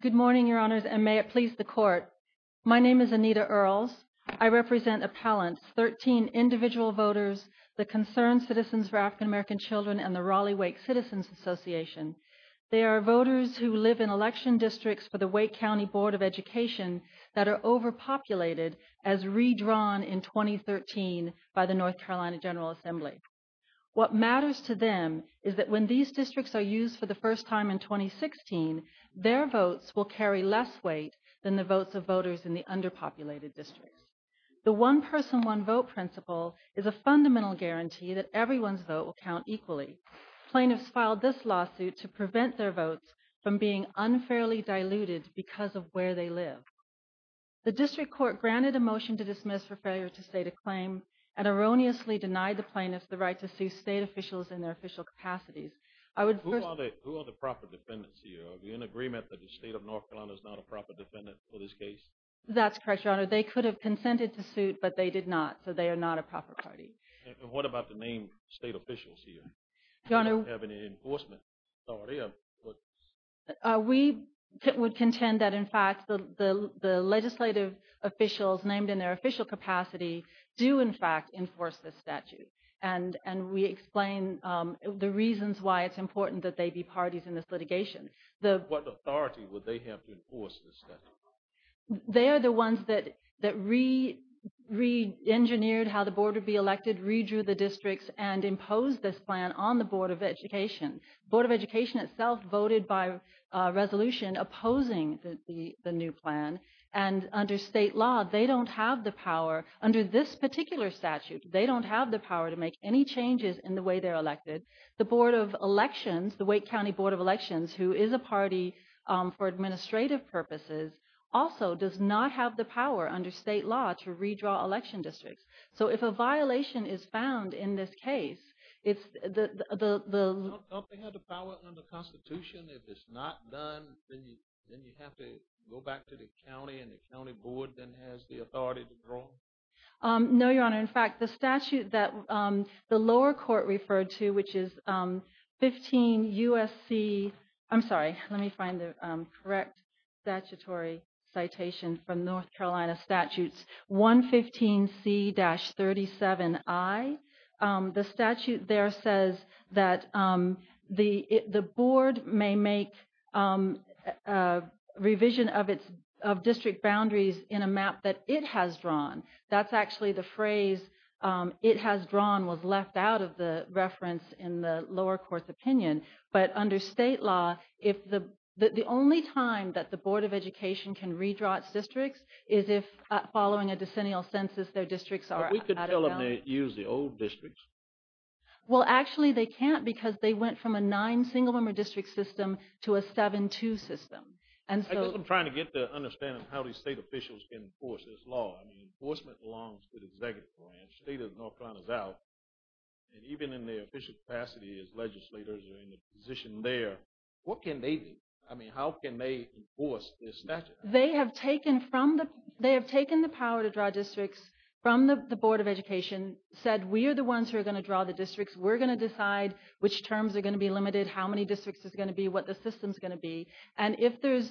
Good morning, your honors, and may it please the court. My name is Anita Earls. I represent appellants, 13 individual voters, the Concerned Citizens for African American Children and the Raleigh-Wake Citizens Association. They are voters who live in election districts for the Wake County Board of Education that are overpopulated as redrawn in 2013 by the North Carolina General Assembly. What matters to them is that when these districts are used for the their votes will carry less weight than the votes of voters in the underpopulated districts. The one-person, one-vote principle is a fundamental guarantee that everyone's vote will count equally. Plaintiffs filed this lawsuit to prevent their votes from being unfairly diluted because of where they live. The district court granted a motion to dismiss for failure to state a claim and erroneously denied the plaintiffs the right to sue state officials in their official capacities. Who are the proper defendants here? Are we in agreement that the State of North Carolina is not a proper defendant for this case? That's correct, your honor. They could have consented to suit but they did not, so they are not a proper party. And what about the named state officials here? Do you have any enforcement authority? We would contend that in fact the legislative officials named in their official capacity do in fact enforce this statute and we explain the reasons why it's important that they be parties in this litigation. What authority would they have to enforce this statute? They are the ones that re-engineered how the board would be elected, redrew the districts, and imposed this plan on the Board of Education. Board of Education itself voted by resolution opposing the new plan and under state law they don't have the power under this particular statute, they don't have the power to make any changes in the way they're elected. The Board of Elections, the Wake County Board of Elections, who is a party for administrative purposes, also does not have the power under state law to redraw election districts. So if a violation is found in this case, it's the... Don't they have the power under Constitution? If it's not done, then you have to go back to the county and the county board then has the authority to draw? No, Your Honor. In fact, the statute that the lower court referred to, which is 15 USC... I'm sorry, let me find the correct statutory citation from North Carolina statutes 115C-37I. The statute there says that the board may make a revision of its it has drawn. That's actually the phrase it has drawn was left out of the reference in the lower court's opinion. But under state law, if the only time that the Board of Education can redraw its districts is if following a decennial census their districts are... We could tell them to use the old districts. Well, actually they can't because they went from a nine single-member district system to a seven-two system. And so... I guess I'm trying to get to understand how these state officials can enforce this law. I mean, enforcement belongs to the executive branch. State of North Carolina is out. And even in their official capacity as legislators are in a position there, what can they do? I mean, how can they enforce this statute? They have taken from the... They have taken the power to draw districts from the Board of Education, said we are the ones who are going to draw the districts. We're going to decide which terms are going to be limited, how many districts is going to be, what the system is going to be. And if there's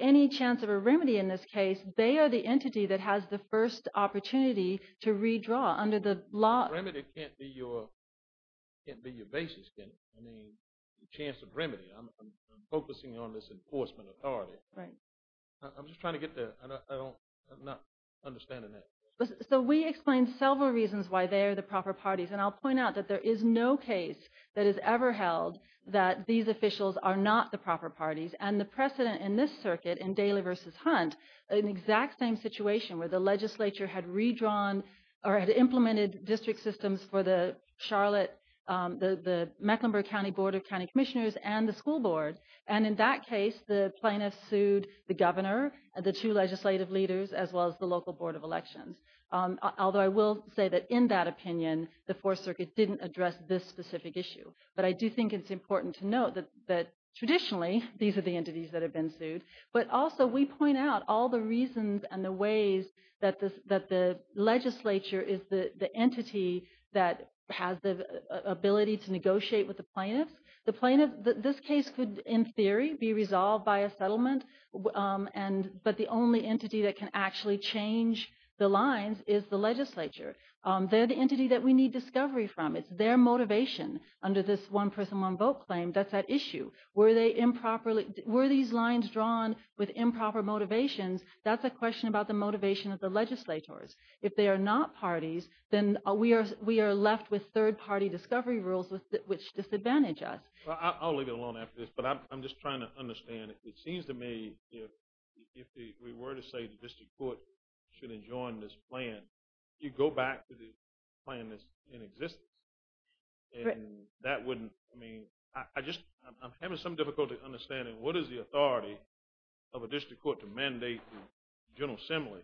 any chance of a remedy in this case, they are the entity that has the first opportunity to redraw under the law. Remedy can't be your... Can't be your basis, can it? I mean, the chance of remedy. I'm focusing on this enforcement authority. Right. I'm just trying to get to... I don't... I'm not understanding that. So we explained several reasons why they are the proper parties. And I'll point out that there is no case that is ever held that these officials are not the proper parties. And the precedent in this circuit, in Daley versus Hunt, an exact same situation where the legislature had redrawn or had implemented district systems for the Charlotte... The Mecklenburg County Board of County Commissioners and the school board. And in that case, the plaintiff sued the governor, the two legislative leaders, as well as the local Board of Elections. Although I will say that in that opinion, the Fourth Circuit didn't address this specific issue. But I do think it's important to note that traditionally, these are the entities that have been sued. But also, we point out all the reasons and the ways that the legislature is the entity that has the ability to negotiate with the plaintiffs. The plaintiff... This case could, in theory, be resolved by a settlement. But the only entity that can actually change the lines is the legislature. They're the entity that we need discovery from. It's their motivation under this one-person, one-vote claim. That's that issue. Were they improperly... Were these lines drawn with improper motivations? That's a question about the motivation of the legislators. If they are not parties, then we are left with third-party discovery rules which disadvantage us. Well, I'll leave it alone after this. But I'm just trying to understand. It seems to me, if we were to say the district court should enjoin this plan, you go back to the inexistence. I'm having some difficulty understanding what is the authority of a district court to mandate the General Assembly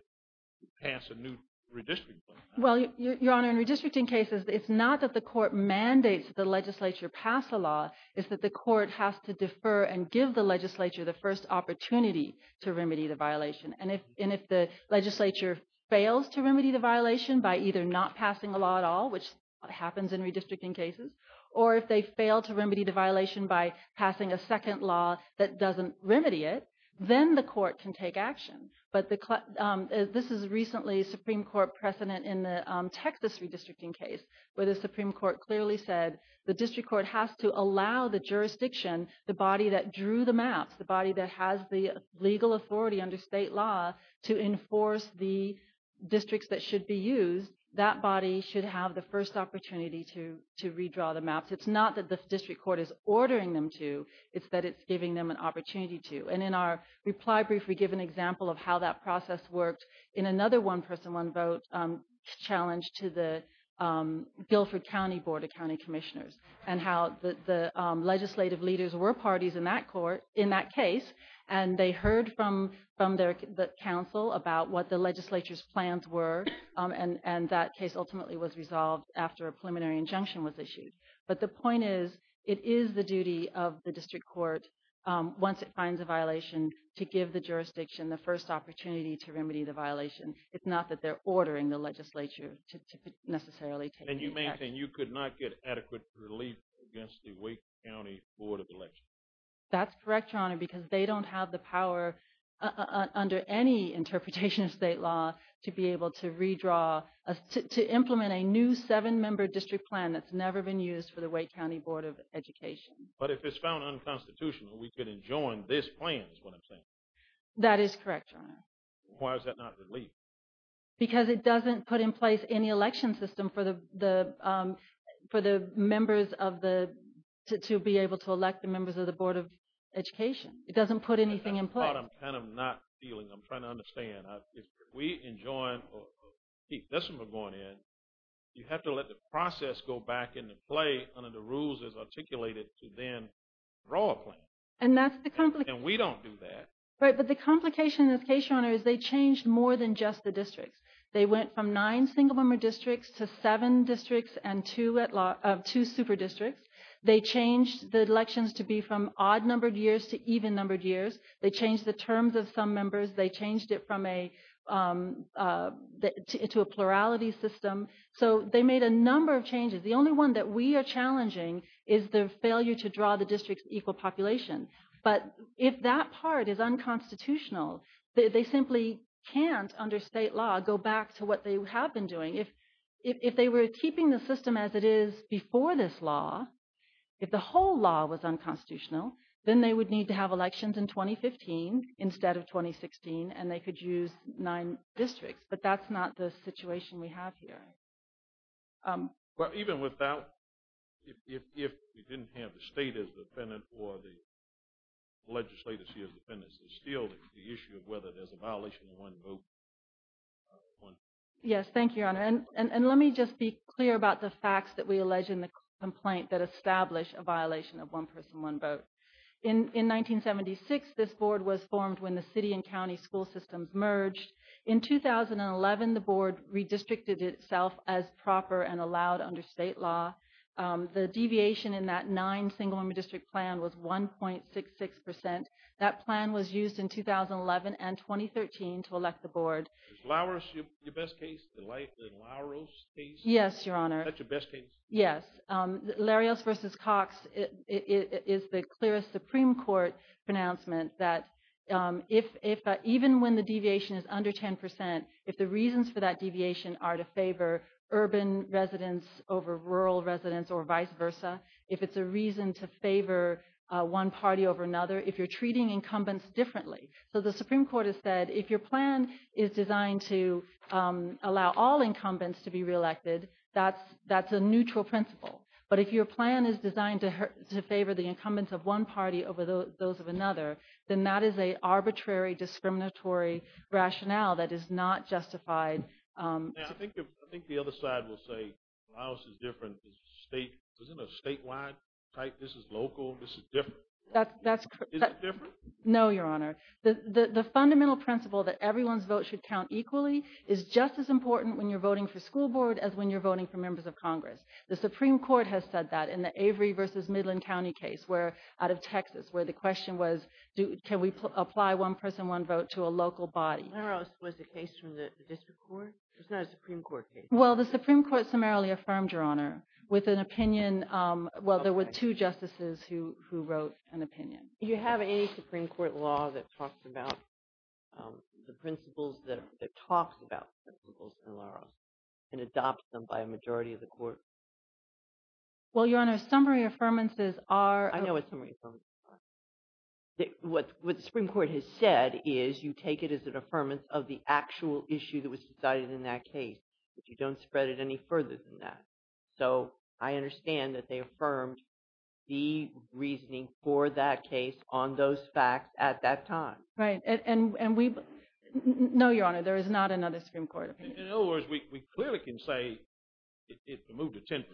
pass a new redistricting plan? Well, Your Honor, in redistricting cases, it's not that the court mandates the legislature pass a law. It's that the court has to defer and give the legislature the first opportunity to remedy the violation. And if the legislature fails to remedy the violation by either not passing a law at all, which happens in redistricting cases, or if they fail to remedy the violation by passing a second law that doesn't remedy it, then the court can take action. But this is recently Supreme Court precedent in the Texas redistricting case, where the Supreme Court clearly said the district court has to allow the jurisdiction, the body that drew the maps, the body that has the legal authority under state law to enforce the districts that should be used, that body should have the first opportunity to redraw the maps. It's not that the district court is ordering them to, it's that it's giving them an opportunity to. And in our reply brief, we give an example of how that process worked in another one-person, one-vote challenge to the Guilford County Board of County Commissioners, and how the legislative leaders were parties in that court, in that case, and they heard from the council about what the legislature's plans were, and that case ultimately was resolved after a preliminary injunction was issued. But the point is, it is the duty of the district court, once it finds a violation, to give the jurisdiction the first opportunity to remedy the violation. It's not that they're ordering the legislature to necessarily take action. And you maintain you could not get adequate relief against the Wake County Board of Elections? That's correct, Your Honor, because they don't have the power, under any interpretation of state law, to be able to redraw, to implement a new seven-member district plan that's never been used for the Wake County Board of Education. But if it's found unconstitutional, we could enjoin this plan, is what I'm saying. That is correct, Your Honor. Why is that not relief? Because it doesn't put in place any election system for the members of the, to be able to it doesn't put anything in place. That's the part I'm kind of not feeling. I'm trying to understand. If we enjoin, or keep this from going in, you have to let the process go back into play under the rules as articulated to then draw a plan. And that's the complication. And we don't do that. Right, but the complication in this case, Your Honor, is they changed more than just the districts. They went from nine single-member districts to seven districts and two super districts. They changed the elections to be from odd-numbered years to even-numbered years. They changed the terms of some members. They changed it from a, to a plurality system. So they made a number of changes. The only one that we are challenging is the failure to draw the district's equal population. But if that part is unconstitutional, they simply can't, under state law, go back to what have been doing. If they were keeping the system as it is before this law, if the whole law was unconstitutional, then they would need to have elections in 2015 instead of 2016, and they could use nine districts. But that's not the situation we have here. But even without, if we didn't have the state as the defendant or the plaintiff, we would still be able to go back to what we were doing in 2015. Yes, thank you, Your Honor. And let me just be clear about the facts that we allege in the complaint that establish a violation of one person, one vote. In 1976, this board was formed when the city and county school systems merged. In 2011, the board redistricted itself as proper and allowed under state law. The deviation in that nine-single-member district plan was 1.66%. That plan was used in 2011 and 2013 to elect the board. Is Louros your best case, the Louros case? Yes, Your Honor. Is that your best case? Yes. Louros v. Cox is the clearest Supreme Court pronouncement that even when the deviation is under 10%, if the reasons for that deviation are to favor urban residents over rural residents or vice versa, if it's a reason to favor one party over if you're treating incumbents differently. So the Supreme Court has said if your plan is designed to allow all incumbents to be reelected, that's a neutral principle. But if your plan is designed to favor the incumbents of one party over those of another, then that is an arbitrary discriminatory rationale that is not justified. I think the other side will say Louros is different. Isn't it a statewide type? This is local. This is different. Is it different? No, Your Honor. The fundamental principle that everyone's vote should count equally is just as important when you're voting for school board as when you're voting for members of Congress. The Supreme Court has said that in the Avery v. Midland County case out of Texas, where the question was, can we apply one person, one vote to a local body? Louros was the case from the district court? It's not a Supreme Court case? Well, the Supreme Court summarily affirmed, Your Honor, with an opinion. Well, there were two justices who wrote an opinion. Do you have any Supreme Court law that talks about the principles, that talks about principles in Louros and adopts them by a majority of the court? Well, Your Honor, summary affirmances are... I know what summary affirmances are. What the Supreme Court has said is you take it as an affirmance of the actual issue that was decided in that case, but you don't spread it any further than that. So I understand that they affirmed the reasoning for that case on those facts at that time. Right. And we... No, Your Honor, there is not another Supreme Court opinion. In other words, we clearly can say it moved to 10%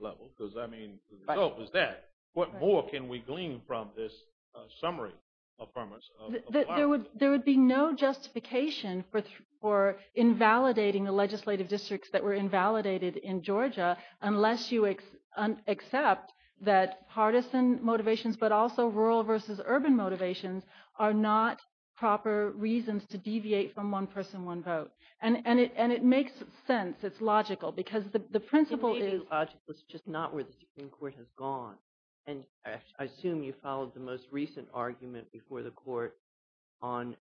level because, I mean, the result was that. What more can we glean from this summary affirmance of... There would be no justification for invalidating the legislative districts that were invalidated in Georgia unless you accept that partisan motivations, but also rural versus urban motivations, are not proper reasons to deviate from one person, one vote. And it makes sense. It's logical because the principle is... It may be logical. It's just not where the Supreme Court has gone. And I assume you followed the most recent argument before the court on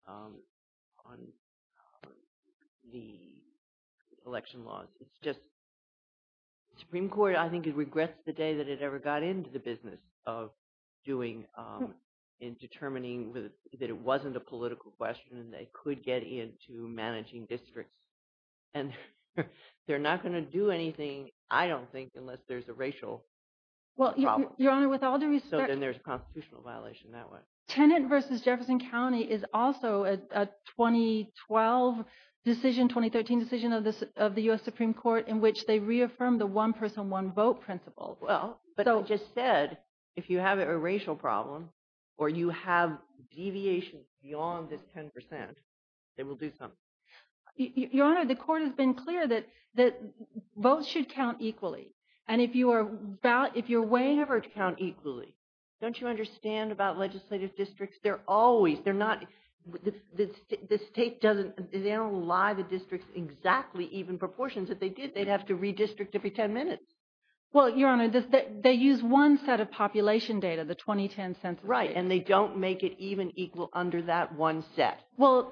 the election laws. It's just the Supreme Court, I think, regrets the day that it ever got into the business of doing and determining that it wasn't a political question and they could get into managing districts. And they're not going to do anything, I don't think, unless there's a racial problem. So then there's a constitutional violation that way. Tenet versus Jefferson County is also a 2012 decision, 2013 decision of the US Supreme Court in which they reaffirmed the one person, one vote principle. Well, but I just said, if you have a racial problem or you have deviations beyond this 10%, they will do something. Your Honor, the court has been clear that votes should count equally. And if you're way... They never count equally. Don't you understand about legislative districts? They're always, they're not... The state doesn't... They don't lie the districts exactly even proportions. If they did, they'd have to redistrict every 10 minutes. Well, Your Honor, they use one set of population data, the 2010 census data. Right. And they don't make it even equal under that one set. Well,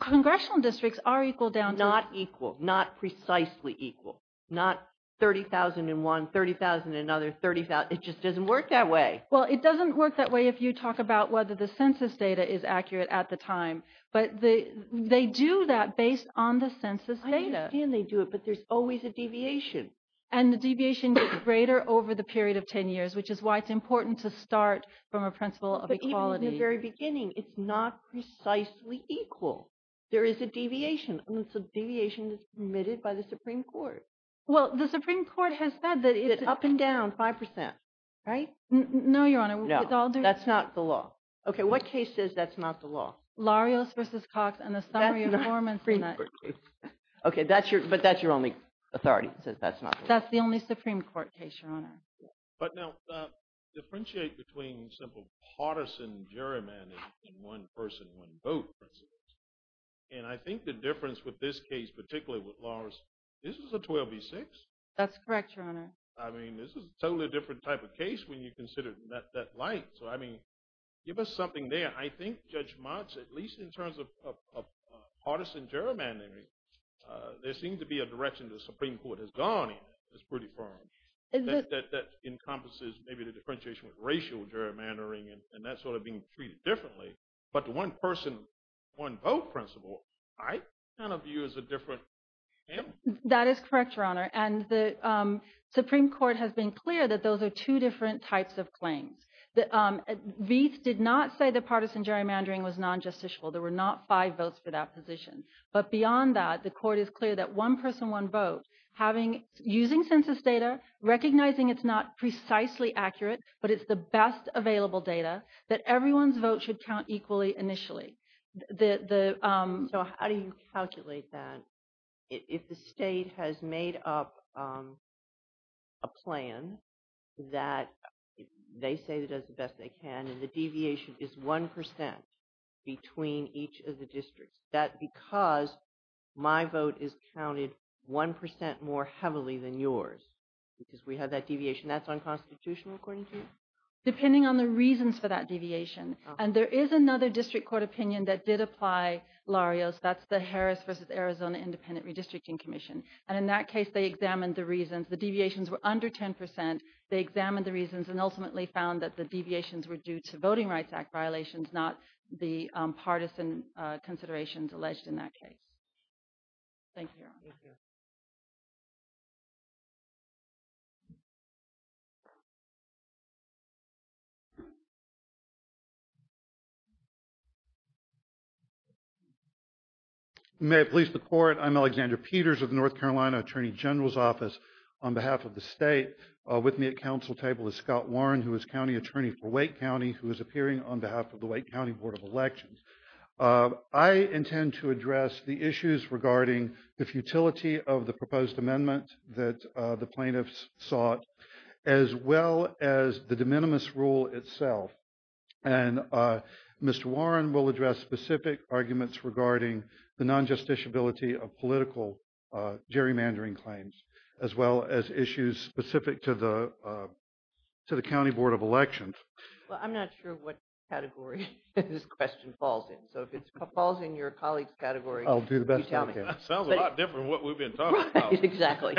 congressional districts are equal down to... Not equal, not precisely equal, not 30,001, 30,000, another 30,000. It just doesn't work that way. Well, it doesn't work that way if you talk about whether the census data is accurate at the time, but they do that based on the census data. I understand they do it, but there's always a deviation. And the deviation gets greater over the period of 10 years, which is why it's important to start from a principle of equality. But even in the very beginning, it's not precisely equal. There is a deviation, and it's a deviation that's permitted by the Supreme Court. Well, the Supreme Court has said that it's... Up and down 5%. Right? No, Your Honor. No. That's not the law. Okay. What case says that's not the law? Larios v. Cox and the summary informant... Okay. But that's your only authority, says that's not the law. That's the only Supreme Court case, Your Honor. But now, differentiate between simple partisan gerrymandering and one person, one vote principles. And I think the difference with this case, particularly with Larios, this is a 12 v. 6. That's correct, Your Honor. I mean, this is a totally different type of case when you consider that light. So, I mean, give us something there. I think Judge Motz, at least in terms of partisan gerrymandering, there seems to be a direction the Supreme Court has gone in that's pretty firm. That encompasses maybe the differentiation with racial gerrymandering and that sort of being treated differently. But the one person, one vote principle, I kind of view as a different... That is correct, Your Honor. And the Supreme Court has been clear that those are two different types of claims. Vietz did not say the partisan gerrymandering was non-justiciable. There were not five votes for that position. But beyond that, the court is clear that one person, one vote, using census data, recognizing it's not precisely accurate, but it's the best available data, that everyone's vote should count equally initially. So how do you calculate that? If the state has made up a plan that they say that does the best they can, and the deviation is 1% between each of the districts, that because my vote is counted 1% more heavily than yours, because we have that deviation, that's unconstitutional according to you? Depending on the reasons for that deviation. And there is another district court opinion that did apply, Larios, that's the Harris v. Arizona Independent Redistricting Commission. And in that case, they examined the reasons. The deviations were under 10%. They examined the reasons and ultimately found that the deviations were due to Voting Rights Act violations, not the partisan considerations alleged in that case. Thank you, Your Honor. May it please the court, I'm Alexander Peters of the North Carolina Attorney General's Office. On behalf of the state, with me at council table is Scott Warren, who is county attorney for Wake County Board of Elections. I intend to address the issues regarding the futility of the proposed amendment that the plaintiffs sought, as well as the de minimis rule itself. And Mr. Warren will address specific arguments regarding the non-justiciability of political gerrymandering claims, as well as issues specific to the county board of elections. Well, I'm not sure what category this question falls in. So if it falls in your colleague's category. I'll do the best I can. Sounds a lot different from what we've been talking about. Exactly.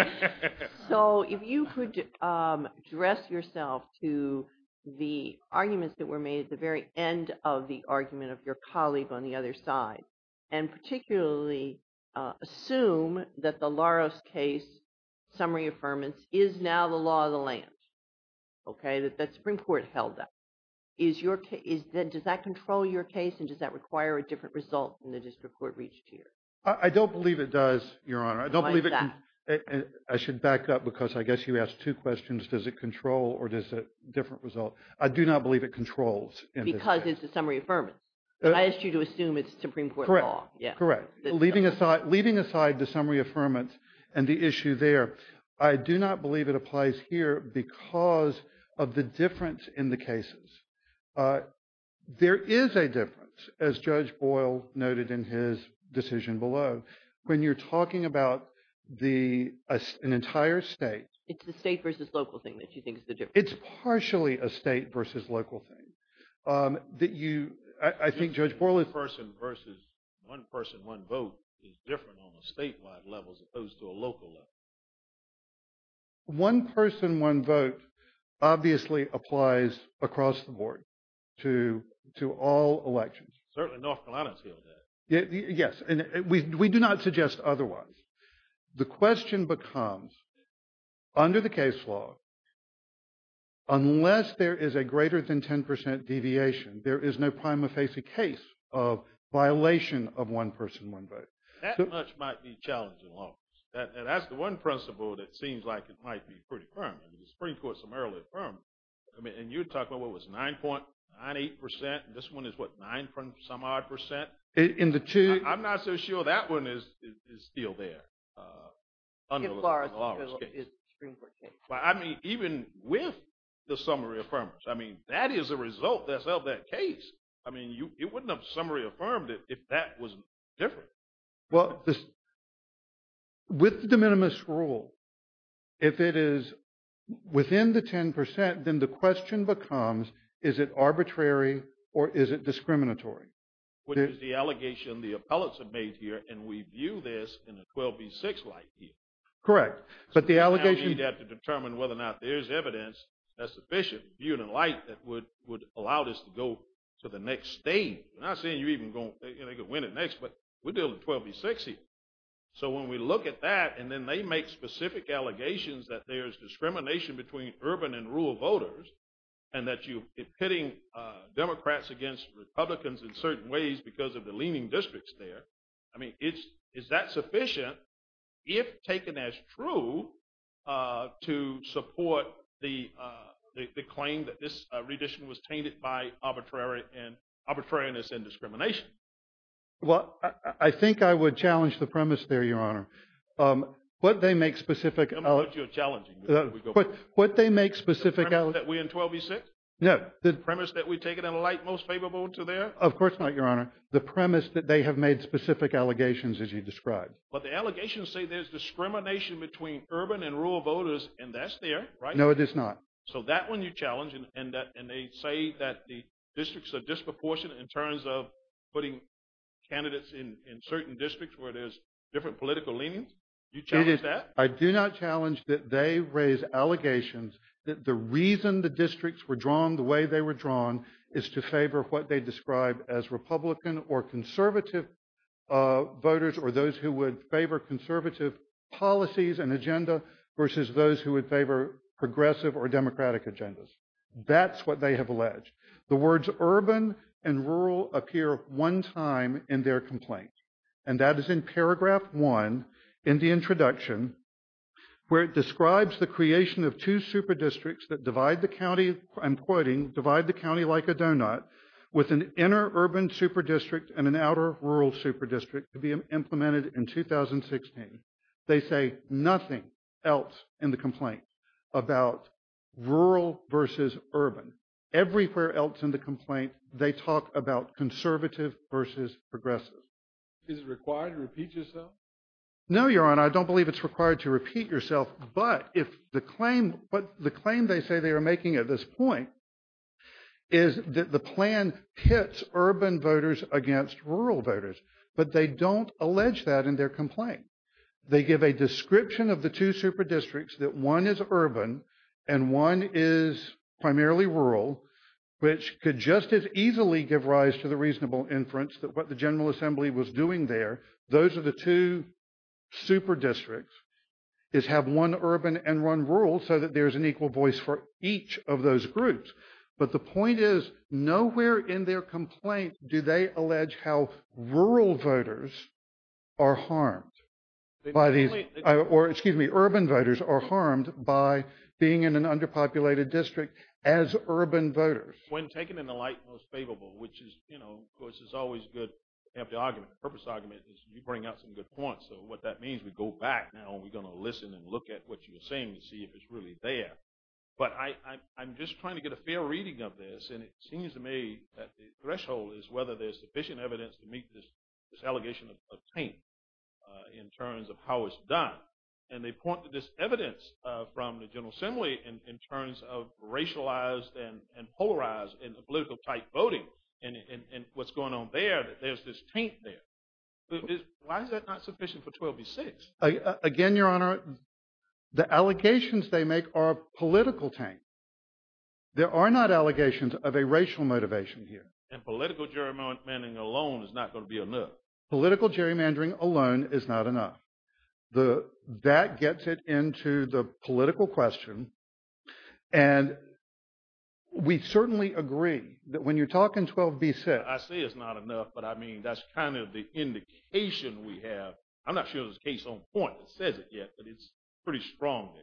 So if you could address yourself to the arguments that were made at the very end of the argument of your colleague on the other side, and particularly assume that the Larios case summary affirmance is now the law of the land, okay, that the Supreme Court held up. Does that control your case? And does that require a different result than the district court reached here? I don't believe it does, Your Honor. Why is that? I should back up, because I guess you asked two questions. Does it control or is it a different result? I do not believe it controls in this case. Because it's a summary affirmance. I asked you to assume it's Supreme Court law. Correct, correct. Leaving aside the summary affirmance and the issue there, I do not believe it applies here because of the difference in the cases. There is a difference, as Judge Boyle noted in his decision below, when you're talking about an entire state. It's the state versus local thing that you think is the difference. It's partially a state versus local thing. That you, I think Judge Boyle- One person versus one person, one vote is different on a statewide level as opposed to a local level. One person, one vote obviously applies across the board to all elections. Certainly North Carolina has held that. Yes, and we do not suggest otherwise. The question becomes, under the case law, unless there is a greater than 10% deviation, there is no prima facie case of violation of one person, one vote. That much might be challenging law. That's the one principle that seems like it might be pretty firm. The Supreme Court summarily affirmed, and you talk about what was 9.98% and this one is what, some odd percent? I'm not so sure that one is still there. As far as the Supreme Court case. Even with the summary affirmers, that is a result that's held that case. It wouldn't have summary affirmed it if that was different. With the de minimis rule, if it is within the 10%, then the question becomes, is it arbitrary or is it discriminatory? Which is the allegation the appellates have made here, and we view this in a 12B6 light here. Correct, but the allegation... We have to determine whether or not there's evidence that's sufficient, viewed in light that would allow this to go to the next stage. Not saying you're even going to win it next, but we're dealing with 12B6 here. So when we look at that, and then they make specific allegations that there's discrimination between urban and rural voters, and that you're pitting Democrats against Republicans in certain ways because of the leaning districts there. I mean, is that sufficient, if taken as true, to support the claim that this rendition was tainted by arbitrariness and discrimination? Well, I think I would challenge the premise there, Your Honor. What they make specific... The premise that we're in 12B6? No. The premise that we take it in a light most favorable to there? Of course not, Your Honor. The premise that they have made specific allegations, as you described. But the allegations say there's discrimination between urban and rural voters, and that's there, right? No, it is not. So that one you challenge, and they say that the districts are disproportionate in terms of putting candidates in certain districts where there's different political leanings? You challenge that? I do not challenge that they raise allegations that the reason the districts were drawn the way they were drawn is to favor what they describe as Republican or conservative voters or those who would favor conservative policies and agenda versus those who would favor progressive or Democratic agendas. That's what they have alleged. The words urban and rural appear one time in their complaint, and that is in paragraph one in the introduction, where it describes the creation of two super districts that divide the county, I'm quoting, divide the county like a donut with an inner urban super district and an outer rural super district to be implemented in 2016. They say nothing else in the complaint about rural versus urban. Everywhere else in the complaint, they talk about conservative versus progressive. Is it required to repeat yourself? No, Your Honor, I don't believe it's required to repeat yourself, but the claim they say they are making at this point is that the plan pits urban voters against rural voters, but they don't allege that in their complaint. They give a description of the two super districts that one is urban and one is primarily rural, which could just as easily give rise to the super districts is have one urban and one rural so that there's an equal voice for each of those groups. But the point is, nowhere in their complaint do they allege how rural voters are harmed by these, or excuse me, urban voters are harmed by being in an underpopulated district as urban voters. When taken in the light most favorable, which is, you know, of course, is always good argument, purpose argument, is you bring out some good points. So what that means, we go back now and we're going to listen and look at what you're saying to see if it's really there. But I'm just trying to get a fair reading of this, and it seems to me that the threshold is whether there's sufficient evidence to meet this allegation of pain in terms of how it's done. And they point to this evidence from the General Assembly in terms of racialized and polarized political-type voting and what's going on there, that there's this taint there. Why is that not sufficient for 12b-6? Again, Your Honor, the allegations they make are political taint. There are not allegations of a racial motivation here. And political gerrymandering alone is not going to be enough. Political gerrymandering alone is not enough. That gets it into the political question. And we certainly agree that when you're talking 12b-6. I say it's not enough, but I mean, that's kind of the indication we have. I'm not sure there's a case on point that says it yet, but it's pretty strong there.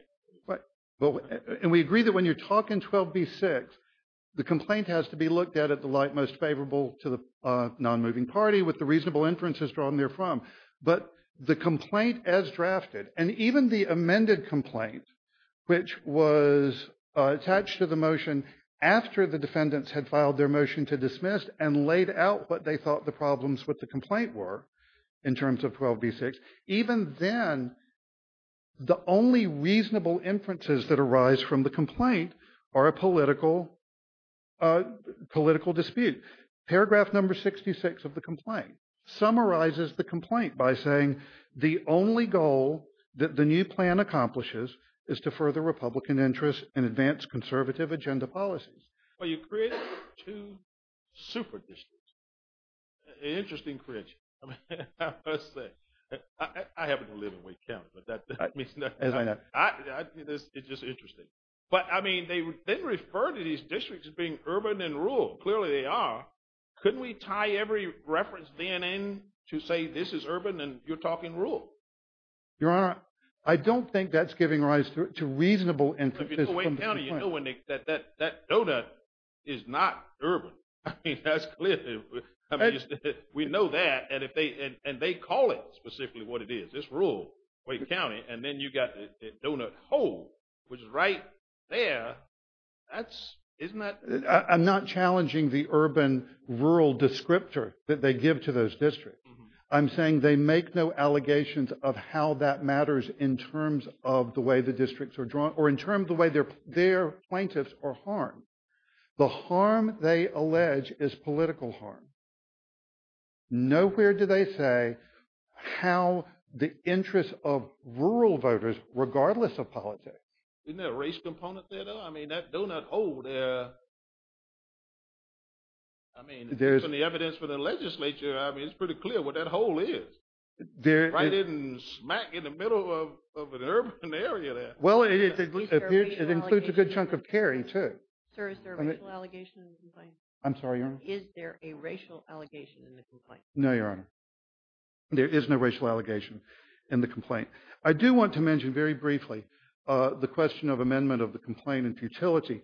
And we agree that when you're talking 12b-6, the complaint has to be looked at at the light most favorable to the non-moving party with the reasonable inferences drawn therefrom. But the complaint as drafted and even the amended complaint, which was attached to the motion after the defendants had filed their motion to dismiss and laid out what they thought the problems with the complaint were in terms of 12b-6, even then the only reasonable inferences that arise from the complaint are a political dispute. Paragraph number 66 of the complaint summarizes the complaint by saying the only goal that the new plan accomplishes is to further Republican interests and advance conservative agenda policies. Well, you created two super districts. Interesting creation, I must say. I happen to live in Wake County, but it's just interesting. But I mean, they refer to these districts as being urban and rural. Clearly they are. Couldn't we tie every reference then in to say this is urban and you're talking rural? Your Honor, I don't think that's giving rise to reasonable inferences from the complaint. If you go to Wake County, you know that donut is not urban. I mean, that's clear. We know that, and they call it specifically what it is. It's rural, Wake County. And then you got the donut hole, which is right there. That's, isn't that? I'm not challenging the urban-rural descriptor that they give to those districts. I'm saying they make no allegations of how that matters in terms of the way the districts are drawn or in terms of the way their plaintiffs are harmed. The harm they allege is political harm. Nowhere do they say how the interests of rural voters, regardless of politics. Isn't there a race component there though? That donut hole there. I mean, given the evidence for the legislature, I mean, it's pretty clear what that hole is. Right in smack in the middle of an urban area there. Well, it includes a good chunk of carry too. Sir, is there a racial allegation in the complaint? I'm sorry, Your Honor? Is there a racial allegation in the complaint? No, Your Honor. There is no racial allegation in the complaint. I do want to mention very briefly the question of amendment of the complaint in futility.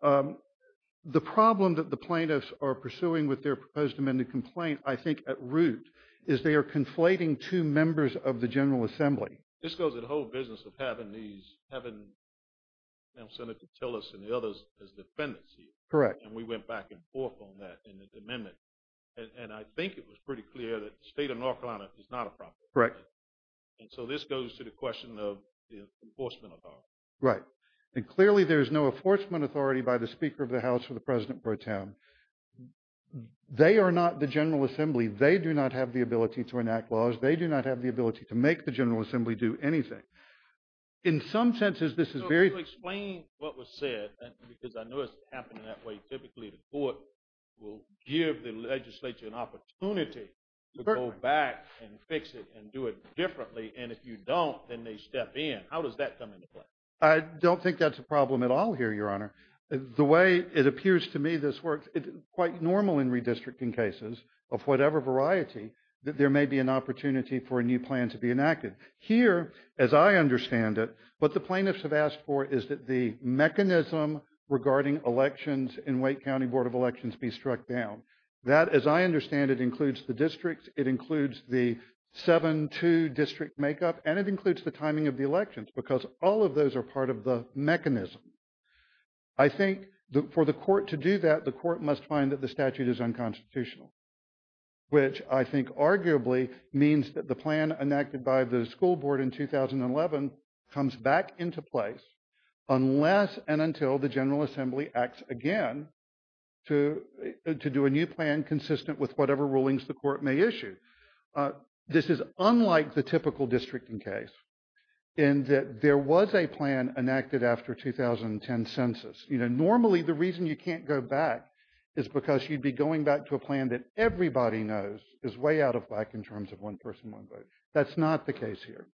The problem that the plaintiffs are pursuing with their proposed amended complaint, I think at root, is they are conflating two members of the General Assembly. This goes in the whole business of having these, having Senator Tillis and the others as defendants here. Correct. And we went back and forth on that in the amendment. And I think it was pretty clear that the state of North Carolina is not a problem. Correct. And so this goes to the question of the enforcement authority. Right. And clearly, there is no enforcement authority by the Speaker of the House or the President Pro Tem. They are not the General Assembly. They do not have the ability to enact laws. They do not have the ability to make the General Assembly do anything. In some senses, this is very... So, if you explain what was said, because I know it's happening that way, typically the court will give the legislature an opportunity to go back and fix it and do it differently. And if you don't, then they step in. How does that come into play? I don't think that's a problem at all here, Your Honor. The way it appears to me this works, it's quite normal in redistricting cases of whatever variety that there may be an opportunity for a new plan to be enacted. Here, as I understand it, what the plaintiffs have asked for is that the mechanism regarding elections in Wake County Board of Elections be struck down. That, as I understand it, includes the districts. It includes the 7-2 district makeup. And it includes the timing of the elections because all of those are part of the mechanism. I think for the court to do that, the court must find that the statute is unconstitutional, which I think arguably means that the plan enacted by the school board in 2011 comes back into place unless and until the General Assembly acts again to do a new plan consistent with whatever rulings the court may issue. This is unlike the typical districting case in that there was a plan enacted after 2010 census. Normally, the reason you can't go back is because you'd be going back to a plan that everybody knows is way out of whack in terms of one person, one vote. That's not the case here.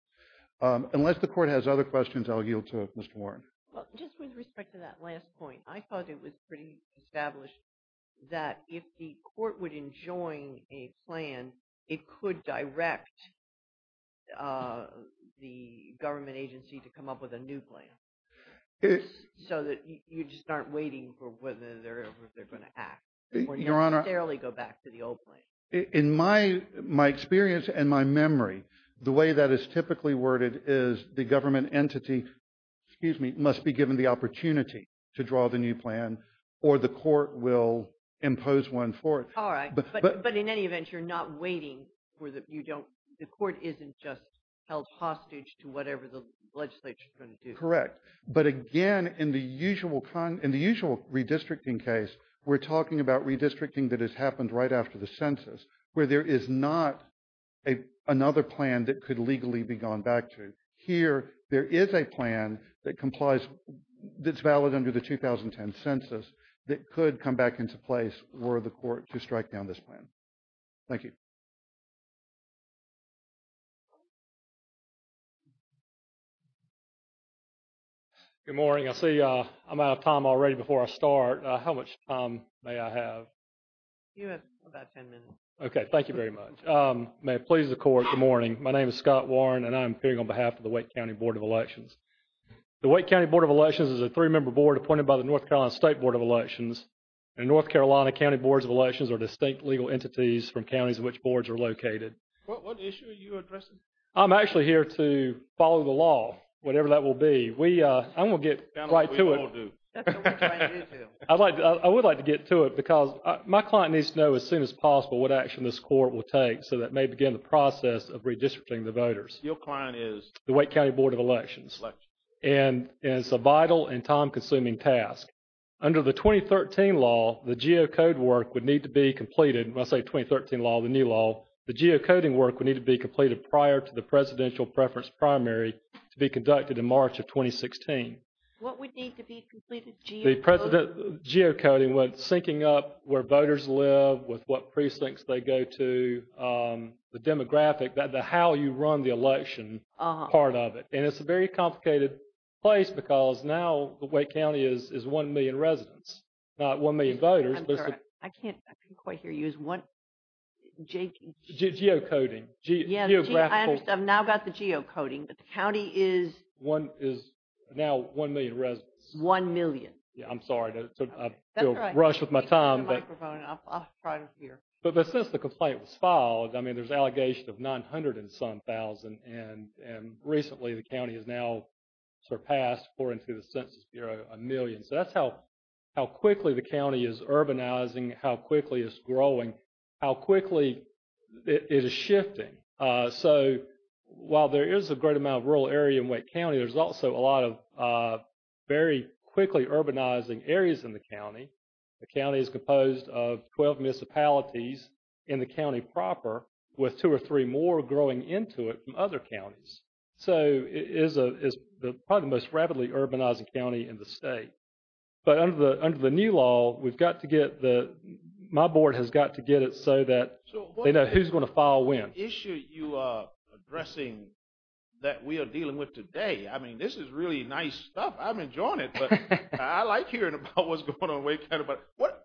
Unless the court has other questions, I'll yield to Mr. Warren. Well, just with respect to that last point, I thought it was pretty established that if the court would enjoin a plan, it could direct the government agency to come up with a new plan so that you just aren't waiting for whether they're going to act or necessarily go back to the old plan. In my experience and my memory, the way that is typically worded is the government entity, excuse me, must be given the opportunity to draw the new plan or the court will impose one for it. All right. But in any event, you're not waiting for the, you don't, the court isn't just held hostage to whatever the legislature is going to do. Correct. But again, in the usual redistricting case, we're talking about redistricting that has happened right after the census where there is not another plan that could legally be gone back to. Here, there is a plan that complies, that's valid under the 2010 census that could come back into place were the court to strike down this plan. Thank you. Good morning. I see I'm out of time already before I start. How much time may I have? You have about 10 minutes. Thank you very much. May it please the court. Good morning. My name is Scott Warren and I'm appearing on behalf of the Wake County Board of Elections. The Wake County Board of Elections is a three-member board appointed by the North Carolina State Board of Elections. And North Carolina County Boards of Elections are distinct legal entities from counties in which boards are located. What issue are you addressing? I'm actually here to follow the law, whatever that will be. We, I'm going to get right to it. That's what we all do. I'd like, I would like to get to it because my client needs to know as soon as possible what action this court will take so that may begin the process of redistricting the voters. Your client is? The Wake County Board of Elections. Elections. And it's a vital and time-consuming task. Under the 2013 law, the geocode work would need to be completed. When I say 2013 law, the new law, the geocoding work would need to be completed prior to the presidential preference primary to be conducted in March of 2016. What would need to be completed geocoding? The precedent geocoding would, syncing up where voters live with what precincts they go to, the demographic, the how you run the election part of it. And it's a very complicated place because now the Wake County is one million residents, not one million voters. I'm sorry, I can't, I can't quite hear you as one, Jake. Geocoding. Yeah, I understand. I've now got the geocoding, but the county is? One is now one million residents. One million. I'm sorry to rush with my time. But since the complaint was filed, I mean, there's an allegation of 900 and some thousand. And recently the county has now surpassed, according to the Census Bureau, a million. So that's how quickly the county is urbanizing, how quickly it's growing, how quickly it is shifting. So while there is a great amount of rural area in Wake County, there's also a lot of very quickly urbanizing areas in the county. The county is composed of 12 municipalities in the county proper, with two or three more growing into it from other counties. So it is probably the most rapidly urbanizing county in the state. But under the new law, we've got to get the, my board has got to get it so that they know who's going to file when. So what issue you are addressing that we are dealing with today? I mean, this is really nice stuff. I'm enjoying it. But I like hearing about what's going on in Wake County. But what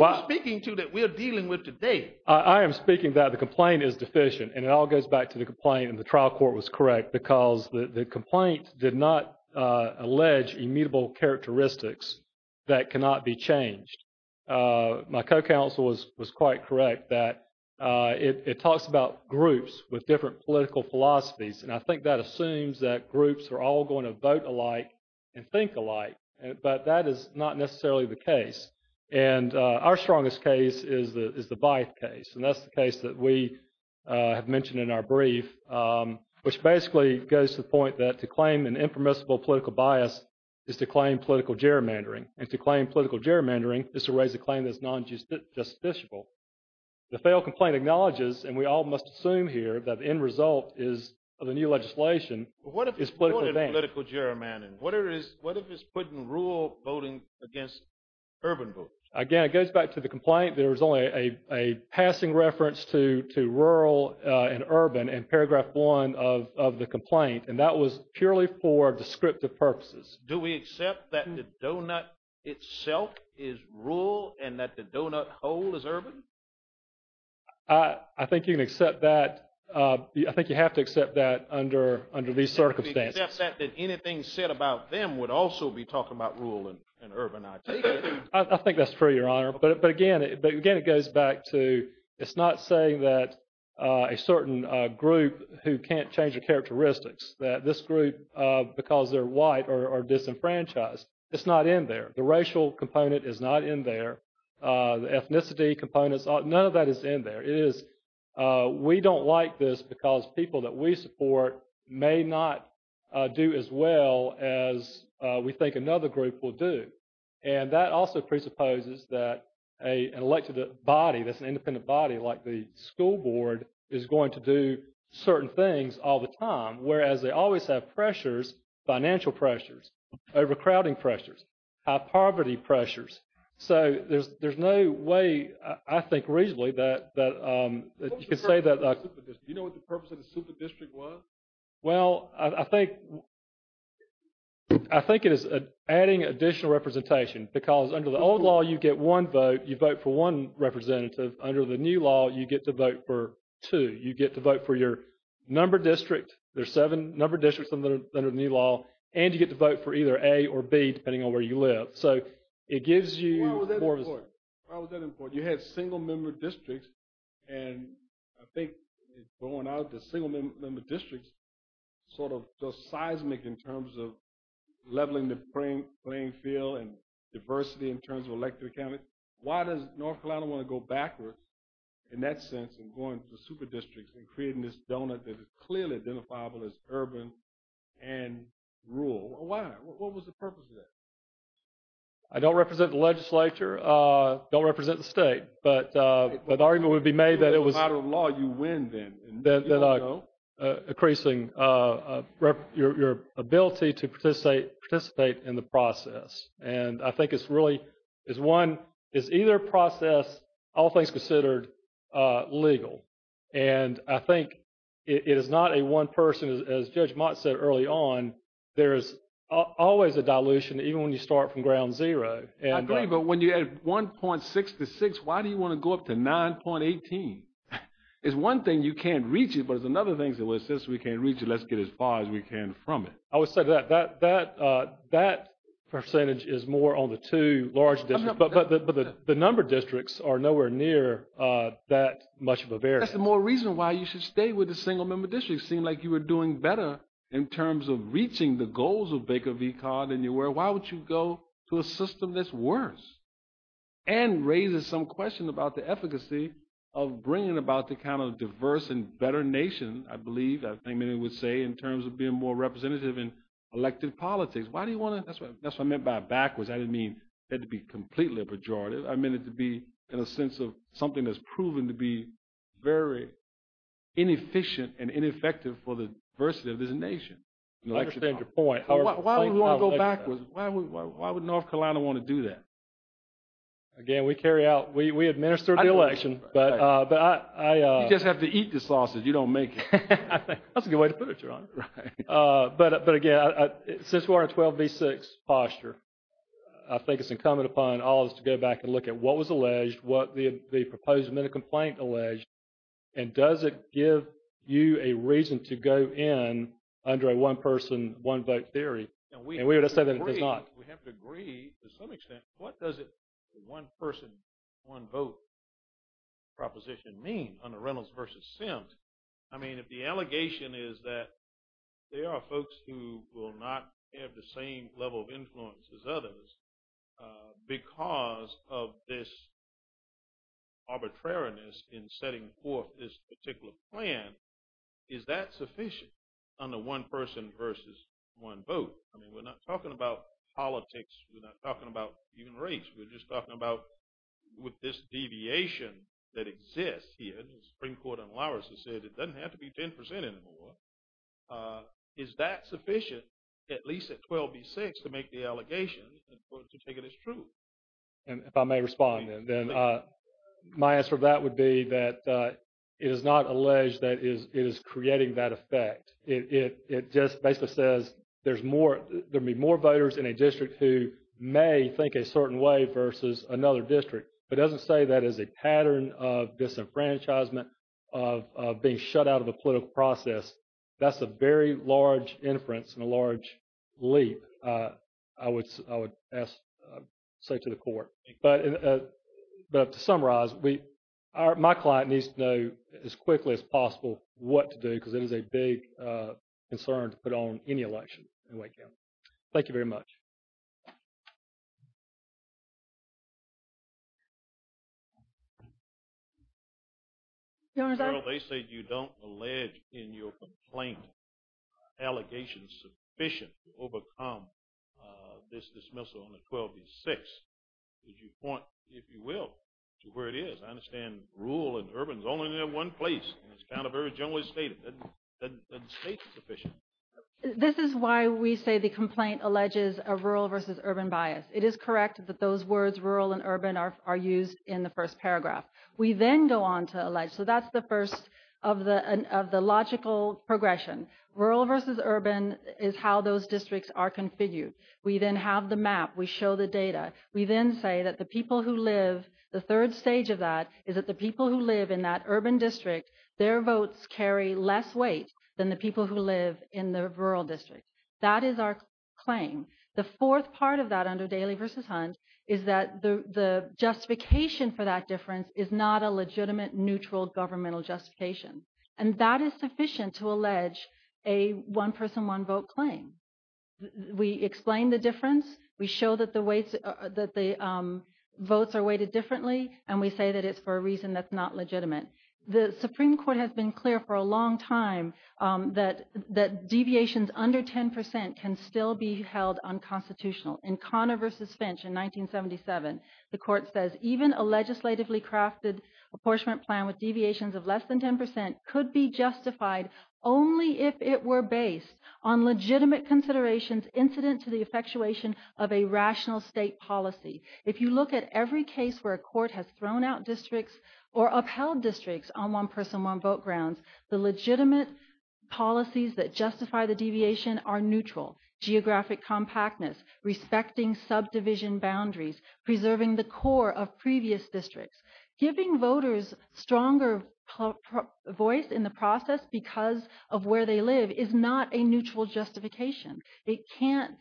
are you speaking to that we are dealing with today? I am speaking that the complaint is deficient. And it all goes back to the complaint in the trial court was correct because the complaint did not allege immutable characteristics that cannot be changed. My co-counsel was quite correct that it talks about groups with different political philosophies. And I think that assumes that groups are all going to vote alike and think alike. But that is not necessarily the case. And our strongest case is the Byth case. And that's the case that we have mentioned in our brief, which basically goes to the point that to claim an impermissible political bias is to claim political gerrymandering. And to claim political gerrymandering is to raise a claim that's non-justiciable. The failed complaint acknowledges, and we all must assume here, that the end result is of the new legislation is political gerrymandering. What if it's putting rural voting against urban voting? Again, it goes back to the complaint. There was only a passing reference to rural and urban in paragraph one of the complaint. And that was purely for descriptive purposes. Do we accept that the donut itself is rural and that the donut hole is urban? I think you can accept that. I think you have to accept that under these circumstances. Do you accept that anything said about them would also be talking about rural and urban? I think that's true, Your Honor. But again, it goes back to, it's not saying that a certain group who can't change their characteristics, that this group, because they're white or disenfranchised, it's not in there. The racial component is not in there. The ethnicity components, none of that is in there. It is, we don't like this because people that we support may not do as well as we think another group will do. And that also presupposes that an elected body, that's an independent body like the school board, is going to do certain things all the time, whereas they always have pressures, financial pressures, overcrowding pressures, high poverty pressures. So there's no way, I think reasonably, that you can say that. Do you know what the purpose of the super district was? Well, I think it is adding additional representation because under the old law, you get one vote. You vote for one representative. Under the new law, you get to vote for two. You get to vote for your number district. There's seven number districts under the new law. And you get to vote for either A or B, depending on where you live. So it gives you more of a sense. Why was that important? You had single member districts, and I think it's going out to single member districts sort of just seismic in terms of leveling the playing field and diversity in terms of elected accountants. Why does North Carolina want to go backwards in that sense and going to super districts and creating this donut that is clearly identifiable as urban and rural? Why? What was the purpose of that? I don't represent the legislature. Don't represent the state. But the argument would be made that it was. Matter of law, you win then. Increasing your ability to participate in the process. And I think it's really, is one, is either process, all things considered, legal. And I think it is not a one person, as Judge Mott said early on, there is always a dilution even when you start from ground zero. I agree, but when you add 1.6 to 6, why do you want to go up to 9.18? It's one thing you can't reach it, but it's another thing, since we can't reach it, let's get as far as we can from it. I would say that that percentage is more on the two large districts, but the number districts are nowhere near that much of a variance. That's the more reason why you should stay with the single member districts. Seemed like you were doing better in terms of reaching the goals of Baker v. Todd than you were. Why would you go to a system that's worse? And raises some question about the efficacy of bringing about the kind of diverse and better nation, I believe, I think many would say, in terms of being more representative in elected politics. Why do you want to, that's what I meant by backwards. I didn't mean it had to be completely pejorative. I meant it to be in a sense of something that's proven to be very inefficient and ineffective for the diversity of this nation. I understand your point. Why would we want to go backwards? Why would North Carolina want to do that? Again, we carry out, we administer the election, but I. You just have to eat the sausage. You don't make it. That's a good way to put it, Your Honor. Right. But again, since we are in 12 v. 6 posture, I think it's incumbent upon all of us to go back and look at what was alleged, what the proposed minute complaint alleged, and does it give you a reason to go in under a one-person, one-vote theory? And we would say that it does not. We have to agree to some extent. What does a one-person, one-vote proposition mean under Reynolds v. Sims? I mean, if the allegation is that there are folks who will not have the same level of plan, is that sufficient under one-person versus one-vote? I mean, we're not talking about politics. We're not talking about even race. We're just talking about with this deviation that exists here, and the Supreme Court on Lawrence has said it doesn't have to be 10 percent anymore. Is that sufficient, at least at 12 v. 6, to make the allegation to take it as true? And if I may respond, then my answer to that would be that it is not alleged that it is creating that effect. It just basically says there's more, there'll be more voters in a district who may think a certain way versus another district. It doesn't say that as a pattern of disenfranchisement, of being shut out of the political process. That's a very large inference and a large leap. I would say to the court. But to summarize, my client needs to know as quickly as possible what to do because it is a big concern to put on any election in Wake County. Thank you very much. Your Honor, they say you don't allege in your complaint allegations sufficient to overcome this dismissal on the 12 v. 6. Would you point, if you will, to where it is? I understand rural and urban is only in one place, and it's kind of very generally stated. It doesn't state sufficient. This is why we say the complaint alleges a rural versus urban bias. It is correct that those words, rural and urban, are used in the first paragraph. We then go on to allege. So that's the first of the logical progression. Rural versus urban is how those districts are configured. We then have the map. We show the data. We then say that the people who live, the third stage of that is that the people who in the rural district. That is our claim. The fourth part of that under Daley v. Hunt is that the justification for that difference is not a legitimate, neutral governmental justification. And that is sufficient to allege a one-person, one-vote claim. We explain the difference. We show that the votes are weighted differently. And we say that it's for a reason that's not legitimate. The Supreme Court has been clear for a long time that deviations under 10% can still be held unconstitutional. In Conner v. Finch in 1977, the court says, even a legislatively crafted apportionment plan with deviations of less than 10% could be justified only if it were based on legitimate considerations incident to the effectuation of a rational state policy. If you look at every case where a court has thrown out districts or upheld districts on one-person, one-vote grounds, the legitimate policies that justify the deviation are neutral. Geographic compactness, respecting subdivision boundaries, preserving the core of previous districts. Giving voters stronger voice in the process because of where they live is not a neutral justification. It can't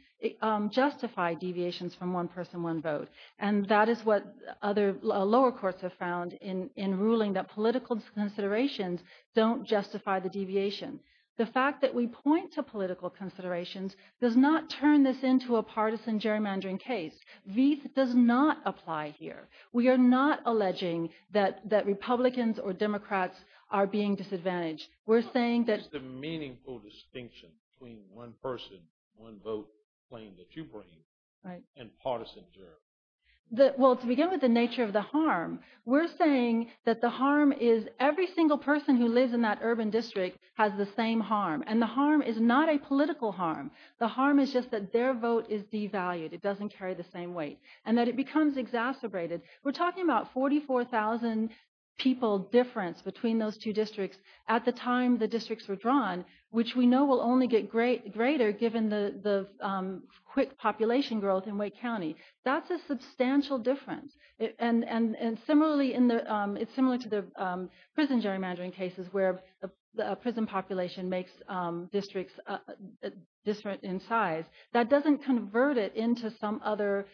justify deviations from one-person, one-vote. And that is what other lower courts have found in ruling that political considerations don't justify the deviation. The fact that we point to political considerations does not turn this into a partisan gerrymandering case. These does not apply here. We are not alleging that Republicans or Democrats are being disadvantaged. We're saying that... It's the meaningful distinction between one-person, one-vote claim that you bring and partisan gerrymandering. Well, to begin with the nature of the harm, we're saying that the harm is every single person who lives in that urban district has the same harm. And the harm is not a political harm. The harm is just that their vote is devalued. It doesn't carry the same weight. And that it becomes exacerbated. We're talking about 44,000 people difference between those two districts at the time the districts were drawn, which we know will only get greater given the quick population growth in Wake County. That's a substantial difference. It's similar to the prison gerrymandering cases where a prison population makes districts different in size. That doesn't convert it into some other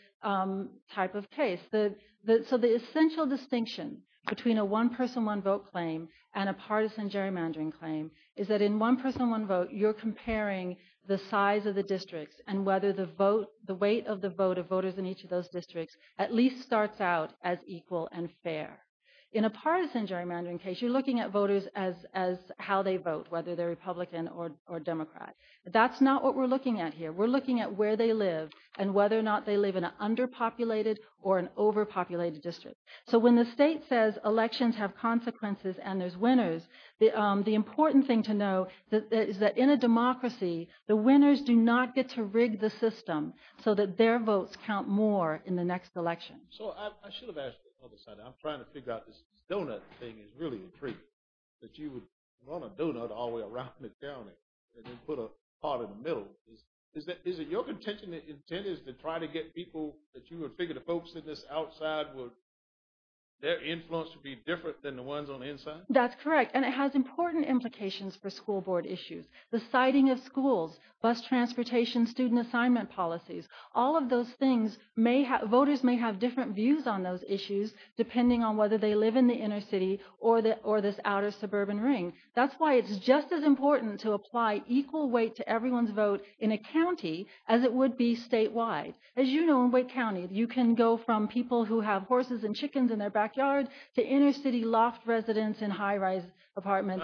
type of case. So the essential distinction between a one-person, one-vote claim and a partisan gerrymandering claim is that in one-person, one-vote, you're comparing the size of the districts and whether the weight of the vote of voters in each of those districts at least starts out as equal and fair. In a partisan gerrymandering case, you're looking at voters as how they vote, whether they're Republican or Democrat. That's not what we're looking at here. We're looking at where they live and whether or not they live in an underpopulated or an overpopulated district. So when the state says elections have consequences and there's winners, the important thing to know is that in a democracy, the winners do not get to rig the system so that their votes count more in the next election. So I should have asked this on the side. I'm trying to figure out this donut thing is really intriguing, that you would run a donut all the way around the county and then put a part in the middle. Is it your intention, the intent is to try to get people that you would figure the folks in this outside would, their influence would be different than the ones on the inside? That's correct. And it has important implications for school board issues. The siting of schools, bus transportation, student assignment policies, all of those things may have, voters may have different views on those issues depending on whether they live in the inner city or this outer suburban ring. That's why it's just as important to apply equal weight to everyone's vote in a county as it would be statewide. As you know, in Wake County, you can go from people who have horses and chickens in their backyard to inner city loft residents in high rise apartments.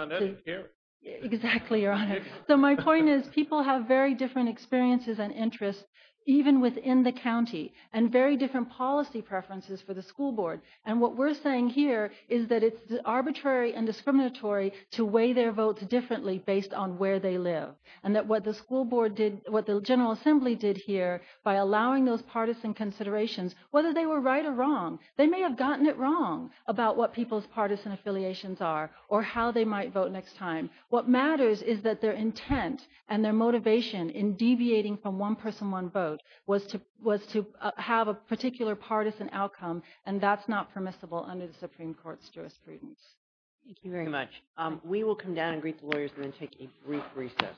Exactly, your honor. So my point is people have very different experiences and interests, even within the county and very different policy preferences for the school board. And what we're saying here is that it's arbitrary and discriminatory to weigh their votes differently based on where they live. And that what the school board did, what the General Assembly did here by allowing those partisan considerations, whether they were right or wrong, they may have gotten it wrong about what people's partisan affiliations are or how they might vote next time. What matters is that their intent and their motivation in deviating from one person, one vote was to have a particular partisan outcome. And that's not permissible under the Supreme Court's jurisprudence. Thank you very much. We will come down and greet the lawyers and then take a brief recess.